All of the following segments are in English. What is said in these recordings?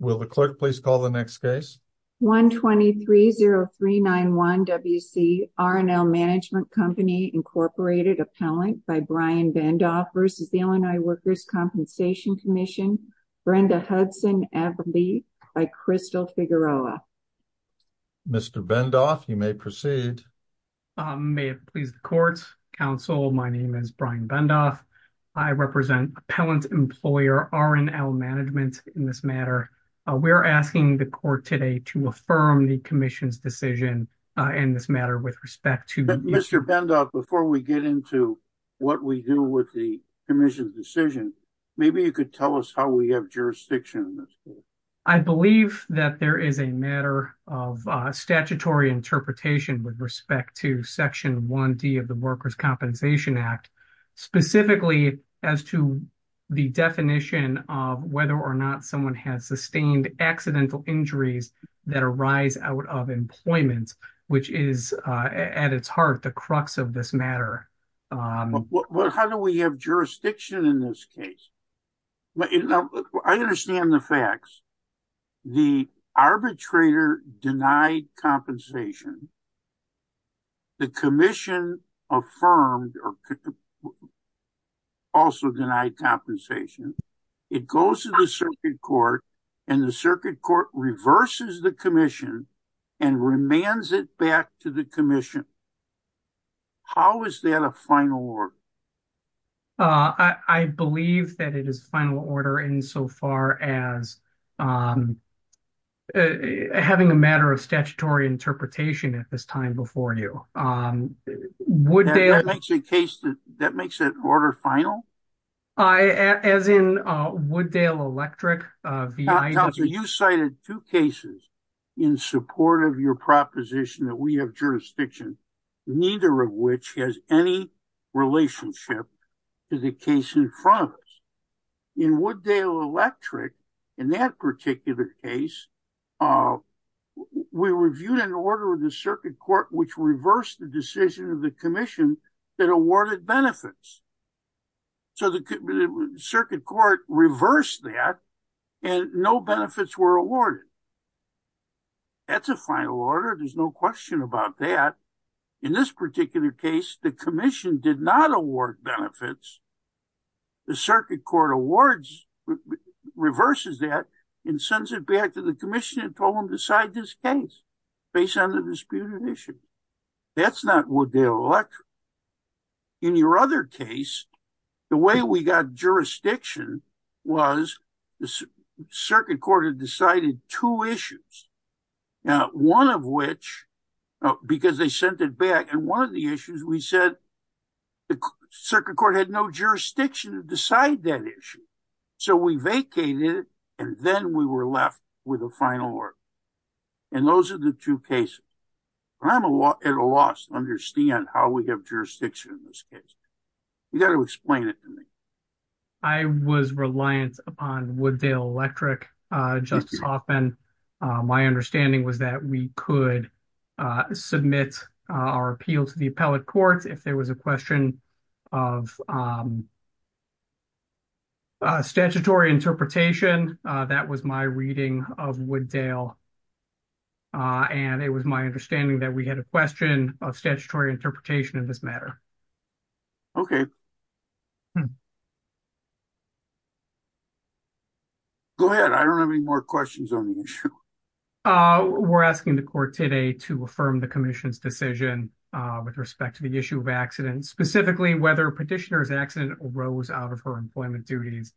Will the clerk please call the next case? 123-0391-WC R & L Management Co., Inc. v. Brian Bendoff v. Illinois Workers' Compensation Comm'n Brenda Hudson-Everly v. Crystal Figueroa Mr. Bendoff, you may proceed. May it please the Court, Counsel, my name is Brian Bendoff. I represent Appellant Employer R & L Management in this matter. We're asking the Court today to affirm the Commission's decision in this matter with respect to- Mr. Bendoff, before we get into what we do with the Commission's decision, maybe you could tell us how we have jurisdiction in this case. I believe that there is a matter of statutory interpretation with respect to Section 1D of the definition of whether or not someone has sustained accidental injuries that arise out of employment, which is, at its heart, the crux of this matter. How do we have jurisdiction in this case? I understand the facts. The arbitrator denied compensation. The Commission affirmed or also denied compensation. It goes to the Circuit Court, and the Circuit Court reverses the Commission and remands it back to the Commission. How is that a final order? I believe that it is final order insofar as having a matter of statutory interpretation at this time before you. That makes it order final? As in Wooddale Electric? You cited two cases in support of your proposition that we have jurisdiction, neither of which has any relationship to the case in front of us. In Wooddale Electric, in that particular case, we reviewed an order of the Circuit Court which reversed the decision of the Commission that awarded benefits. The Circuit Court reversed that, and no benefits were awarded. That's a final order. There's no question about that. In this particular case, the Commission did not award benefits. The Circuit Court awards, reverses that, and sends it back to the Commission and told them to decide this case based on the disputed issue. That's not Wooddale Electric. In your other case, the way we got jurisdiction was the Circuit Court had decided two cases, two issues. Now, one of which, because they sent it back, and one of the issues we said the Circuit Court had no jurisdiction to decide that issue. So we vacated it, and then we were left with a final order. And those are the two cases. I'm at a loss to understand how we have jurisdiction in this case. You got to explain it to me. I was reliant upon Wooddale Electric, Justice Hoffman. My understanding was that we could submit our appeal to the Appellate Court. If there was a question of statutory interpretation, that was my reading of Wooddale, and it was my understanding that we had a question of statutory interpretation in this matter. Okay. Go ahead. I don't have any more questions on the issue. We're asking the Court today to affirm the Commission's decision with respect to the issue of accidents, specifically whether Petitioner's accident arose out of her employment duties.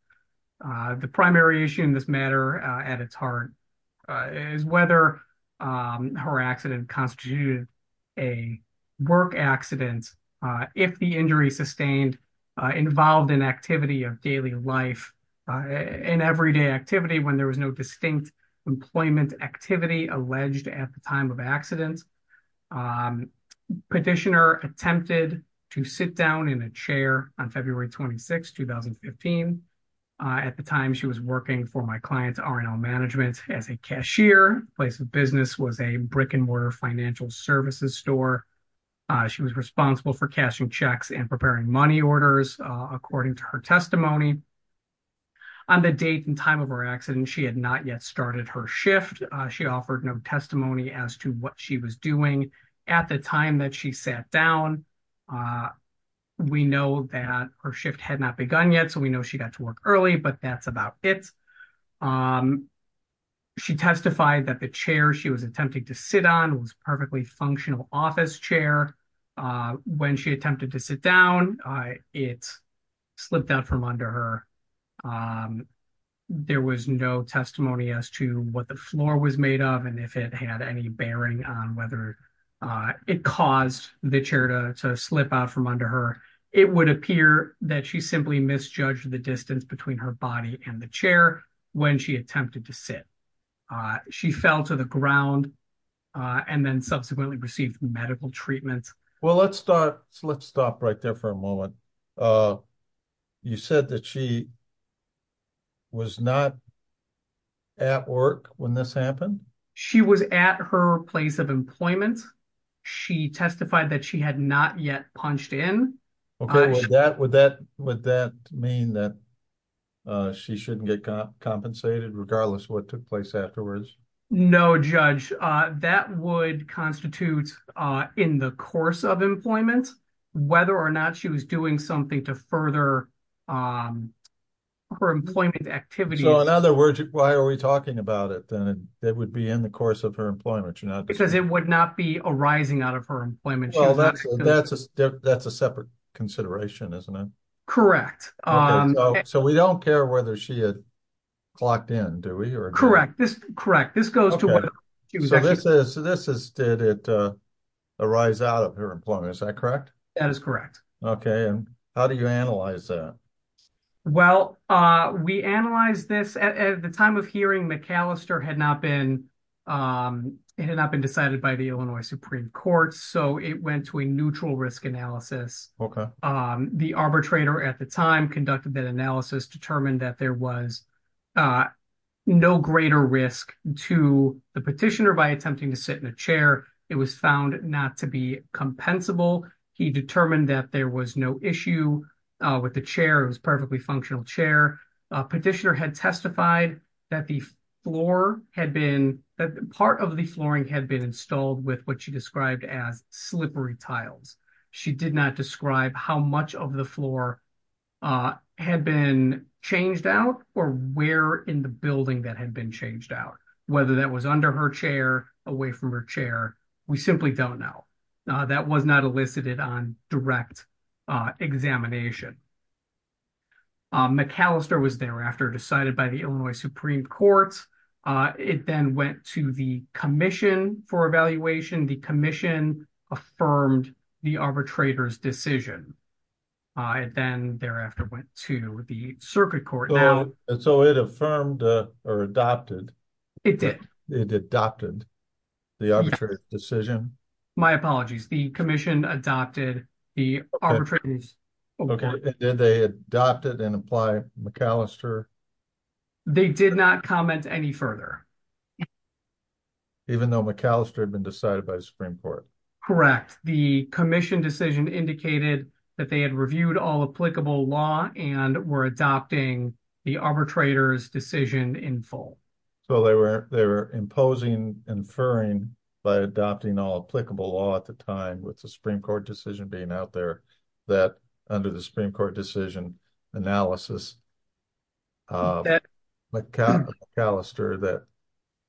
The primary issue in this matter, at its heart, is whether her accident constituted a work accident if the injury sustained involved an activity of daily life, an everyday activity when there was no distinct employment activity alleged at the time of accident. Petitioner attempted to sit down in a chair on February 26, 2015. At the time, she was working for my client's R&L management as a cashier. Place of business was a brick and mortar services store. She was responsible for cashing checks and preparing money orders, according to her testimony. On the date and time of her accident, she had not yet started her shift. She offered no testimony as to what she was doing. At the time that she sat down, we know that her shift had not begun yet, so we know she got to work early, but that's about it. She testified that the chair she was attempting to sit on was a perfectly functional office chair. When she attempted to sit down, it slipped out from under her. There was no testimony as to what the floor was made of and if it had any bearing on whether it caused the chair to slip out from under her. It would appear that she simply misjudged the when she attempted to sit. She fell to the ground and then subsequently received medical treatment. Well, let's stop right there for a moment. You said that she was not at work when this happened? She was at her place of employment. She testified that she had not yet punched in. Okay, would that mean that she shouldn't get compensated regardless of what took place afterwards? No, judge. That would constitute in the course of employment whether or not she was doing something to further her employment activity. So, in other words, why are we talking about it then? It would be in the course of her employment. Because it would not be arising out of her employment. That's a separate consideration, isn't it? Correct. So, we don't care whether she had clocked in, do we? Correct. So, this is did it arise out of her employment, is that correct? That is correct. Okay, and how do you analyze that? Well, we analyzed this at the time of hearing McAllister had not been decided by the Illinois Supreme Court. So, it went to a neutral risk analysis. The arbitrator at the time conducted that analysis, determined that there was no greater risk to the petitioner by attempting to sit in a chair. It was found not to be compensable. He determined that there was no issue with the chair. It was a perfectly functional chair. Petitioner had testified that part of the flooring had been installed with what she did not describe how much of the floor had been changed out or where in the building that had been changed out. Whether that was under her chair, away from her chair, we simply don't know. That was not elicited on direct examination. McAllister was thereafter decided by the Illinois Supreme Court. It then went to the commission for evaluation. The commission affirmed the arbitrator's decision. It then thereafter went to the circuit court. So, it affirmed or adopted? It did. It adopted the arbitrator's decision? My apologies. The commission adopted the arbitrator's. Okay, did they adopt it and apply McAllister? They did not comment any further. Even though McAllister had been decided by the commission? Correct. The commission decision indicated that they had reviewed all applicable law and were adopting the arbitrator's decision in full. So, they were imposing, inferring by adopting all applicable law at the time with the Supreme Court decision being out there that under the Supreme Court decision analysis of McAllister that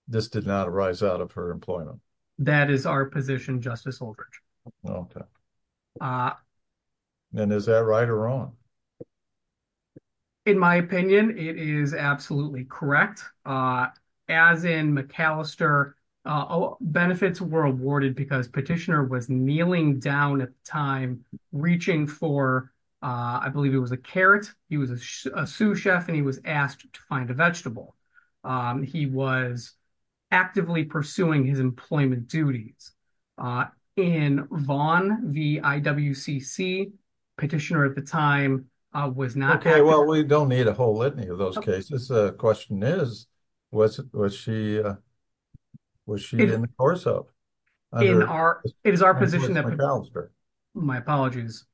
this did not arise out of her employment. That is our position, Justice Oldridge. Okay, and is that right or wrong? In my opinion, it is absolutely correct. As in McAllister, benefits were awarded because petitioner was kneeling down at the time reaching for, I believe it was a carrot, he was a sous He was actively pursuing his employment duties. In Vaughan, the IWCC, petitioner at the time was not. Okay, well, we don't need a whole litany of those cases. The question is, was she in the course of? It is our position. My apologies.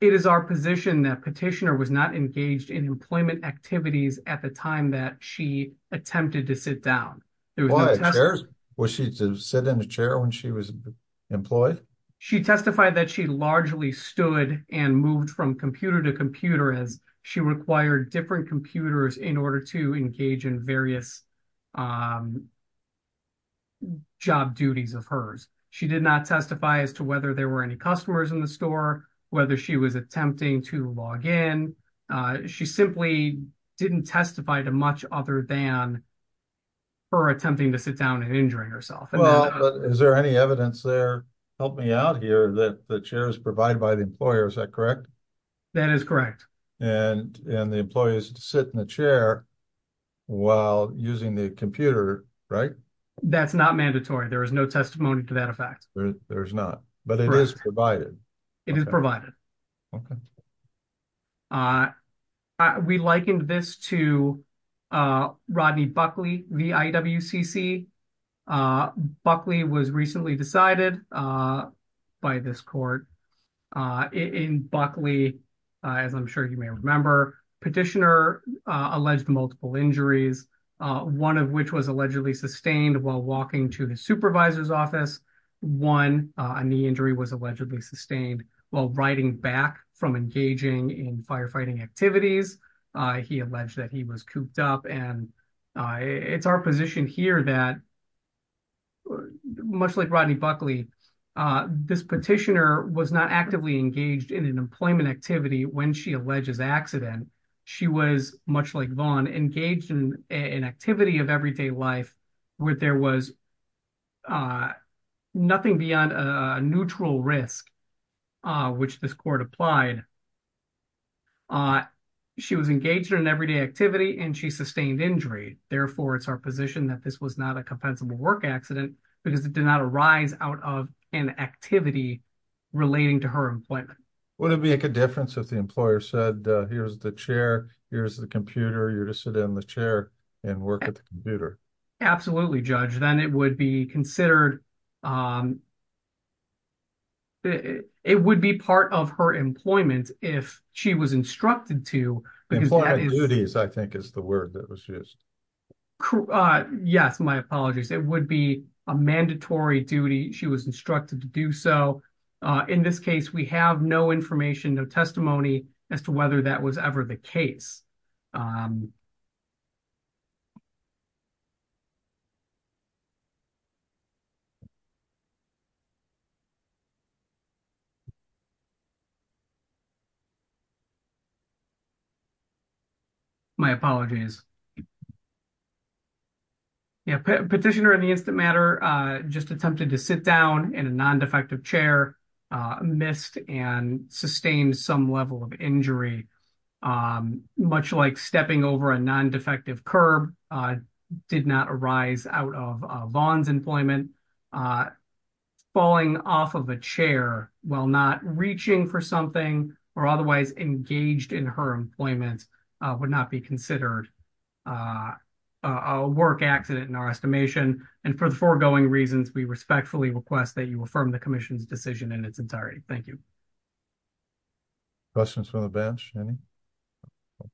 It is our position that petitioner was not engaged in employment activities at the time that she attempted to sit down. Was she to sit in a chair when she was employed? She testified that she largely stood and moved from computer to computer as she required different computers in order to engage in various job duties of hers. She did not testify as to whether there were any customers in the store, whether she was attempting to log in. She simply didn't testify to much other than her attempting to sit down and injuring herself. Well, is there any evidence there? Help me out here that the chair is provided by the employer. Is that correct? That is correct. And the employees sit in the chair while using the computer, right? That's not mandatory. There is no testimony to that effect. There's not, but it is provided. It is provided. We likened this to Rodney Buckley, the IWCC. Buckley was recently decided by this court. In Buckley, as I'm sure you may remember, petitioner alleged multiple injuries, one of which was allegedly sustained while walking to the supervisor's office. One knee injury was allegedly sustained while riding back from engaging in firefighting activities. He alleged that he was cooped up. And it's our position here that much like Rodney Buckley, this petitioner was not actively engaged in an employment activity when she alleges accident. She was, much like Vaughn, engaged in an activity of everyday life where there was nothing beyond a neutral risk, which this court applied. She was engaged in an everyday activity and she sustained injury. Therefore, it's our position that this was not a compensable work accident because it did not arise out of an activity relating to her employment. Would it make a difference if the employer said, here's the chair, here's the computer, you're to sit in the chair and work at the computer? Absolutely, Judge. Then it would be considered, it would be part of her employment if she was instructed to. Employment duties, I think is the word that was used. Yes, my apologies. It would be a mandatory duty. She was instructed to do so. In this case, we have no information, no testimony as to whether that was ever the case. My apologies. Petitioner in the instant matter just attempted to sit down in a non-defective chair, missed and sustained some level of injury, much like stepping over a non-defective curb did not arise out of Vaughn's employment. Falling off of a chair while not reaching for something or otherwise engaged in her employment would not be considered a work accident in our estimation. For the foregoing reasons, we respectfully request that you affirm the commission's decision in its entirety. Thank you. Questions from the bench? Any?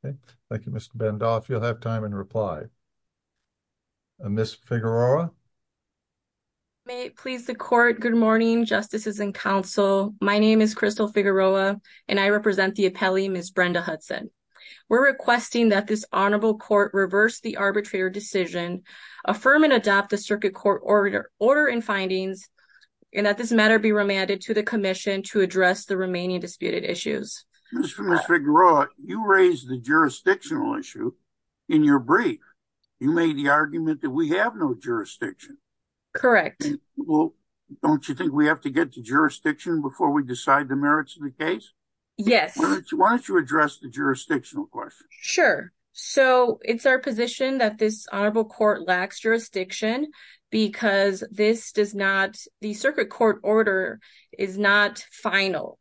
Okay. Thank you, Mr. Bandoff. You'll have time in reply. Ms. Figueroa? May it please the court. Good morning, justices and counsel. My name is Crystal Figueroa and I represent the appellee, Ms. Brenda Hudson. We're requesting that this honorable court reverse the and that this matter be remanded to the commission to address the remaining disputed issues. You raised the jurisdictional issue in your brief. You made the argument that we have no jurisdiction. Correct. Well, don't you think we have to get to jurisdiction before we decide the merits of the case? Yes. Why don't you address the jurisdictional question? Sure. So it's our jurisdiction because this does not, the circuit court order is not final.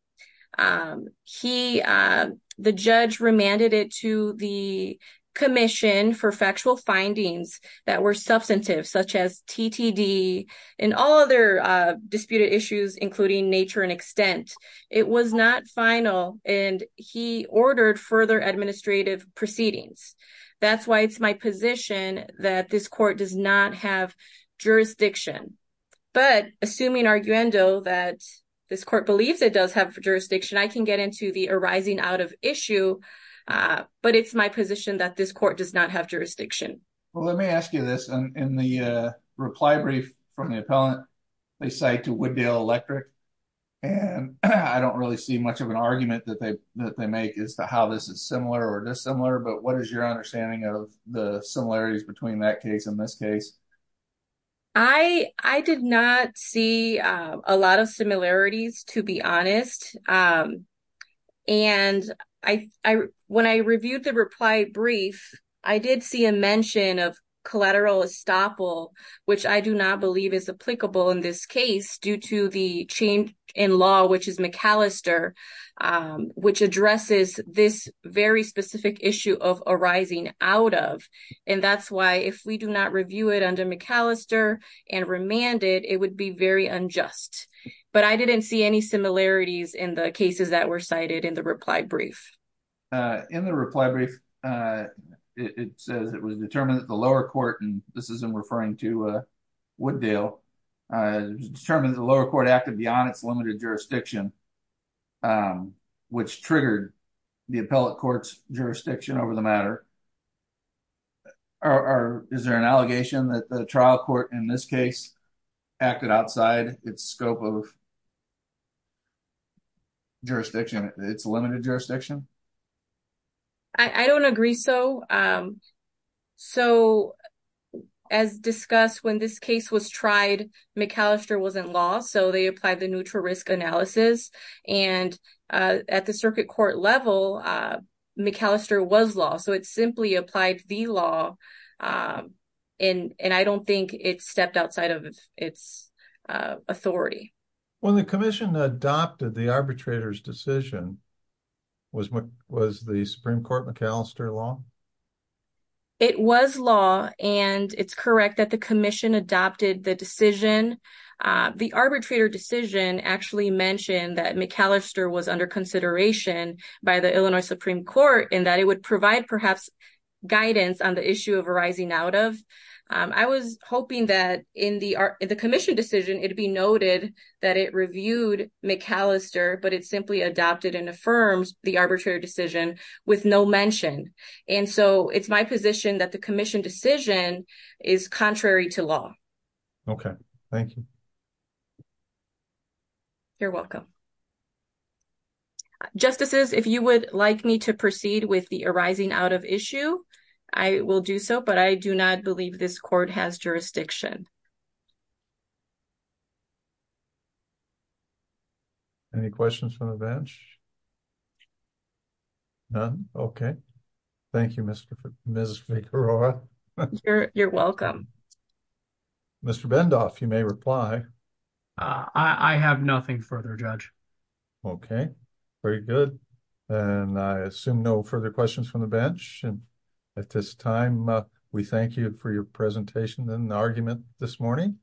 He, the judge remanded it to the commission for factual findings that were substantive such as TTD and all other disputed issues including nature and extent. It was not final and he ordered further administrative proceedings. That's why it's my position that this court does not have jurisdiction. But assuming arguendo that this court believes it does have jurisdiction, I can get into the arising out of issue. But it's my position that this court does not have jurisdiction. Well, let me ask you this. In the reply brief from the appellant, they cite to Wooddale Electric and I don't really see much of an argument that they make as to how this is similar or dissimilar. But what is your understanding of the similarities between that case and this case? I did not see a lot of similarities to be honest. And when I reviewed the reply brief, I did see a mention of collateral estoppel which I do not believe is applicable in this case due to the change in law which is addresses this very specific issue of arising out of. And that's why if we do not review it under McAllister and remanded, it would be very unjust. But I didn't see any similarities in the cases that were cited in the reply brief. In the reply brief, it says it was determined that the lower court, and this is in referring to Wooddale, determined the lower court acted on its limited jurisdiction which triggered the appellate court's jurisdiction over the matter. Is there an allegation that the trial court in this case acted outside its scope of jurisdiction, its limited jurisdiction? I don't agree so. So as discussed, when this case was so they applied the neutral risk analysis. And at the circuit court level, McAllister was law. So it simply applied the law and I don't think it stepped outside of its authority. When the commission adopted the arbitrator's decision, was the Supreme Court McAllister law? It was law and it's correct that the commission adopted the decision. The arbitrator decision actually mentioned that McAllister was under consideration by the Illinois Supreme Court and that it would provide perhaps guidance on the issue of arising out of. I was hoping that in the commission decision, it'd be noted that it reviewed McAllister, but it simply adopted and affirms the is contrary to law. Okay. Thank you. You're welcome. Justices, if you would like me to proceed with the arising out of issue, I will do so, but I do not believe this court has jurisdiction. Any questions from the bench? None? Okay. Thank you, Ms. Figueroa. You're welcome. Mr. Bendoff, you may reply. I have nothing further, Judge. Okay. Very good. And I assume no further questions from the bench. And at this time, we thank you for your presentation and argument this morning.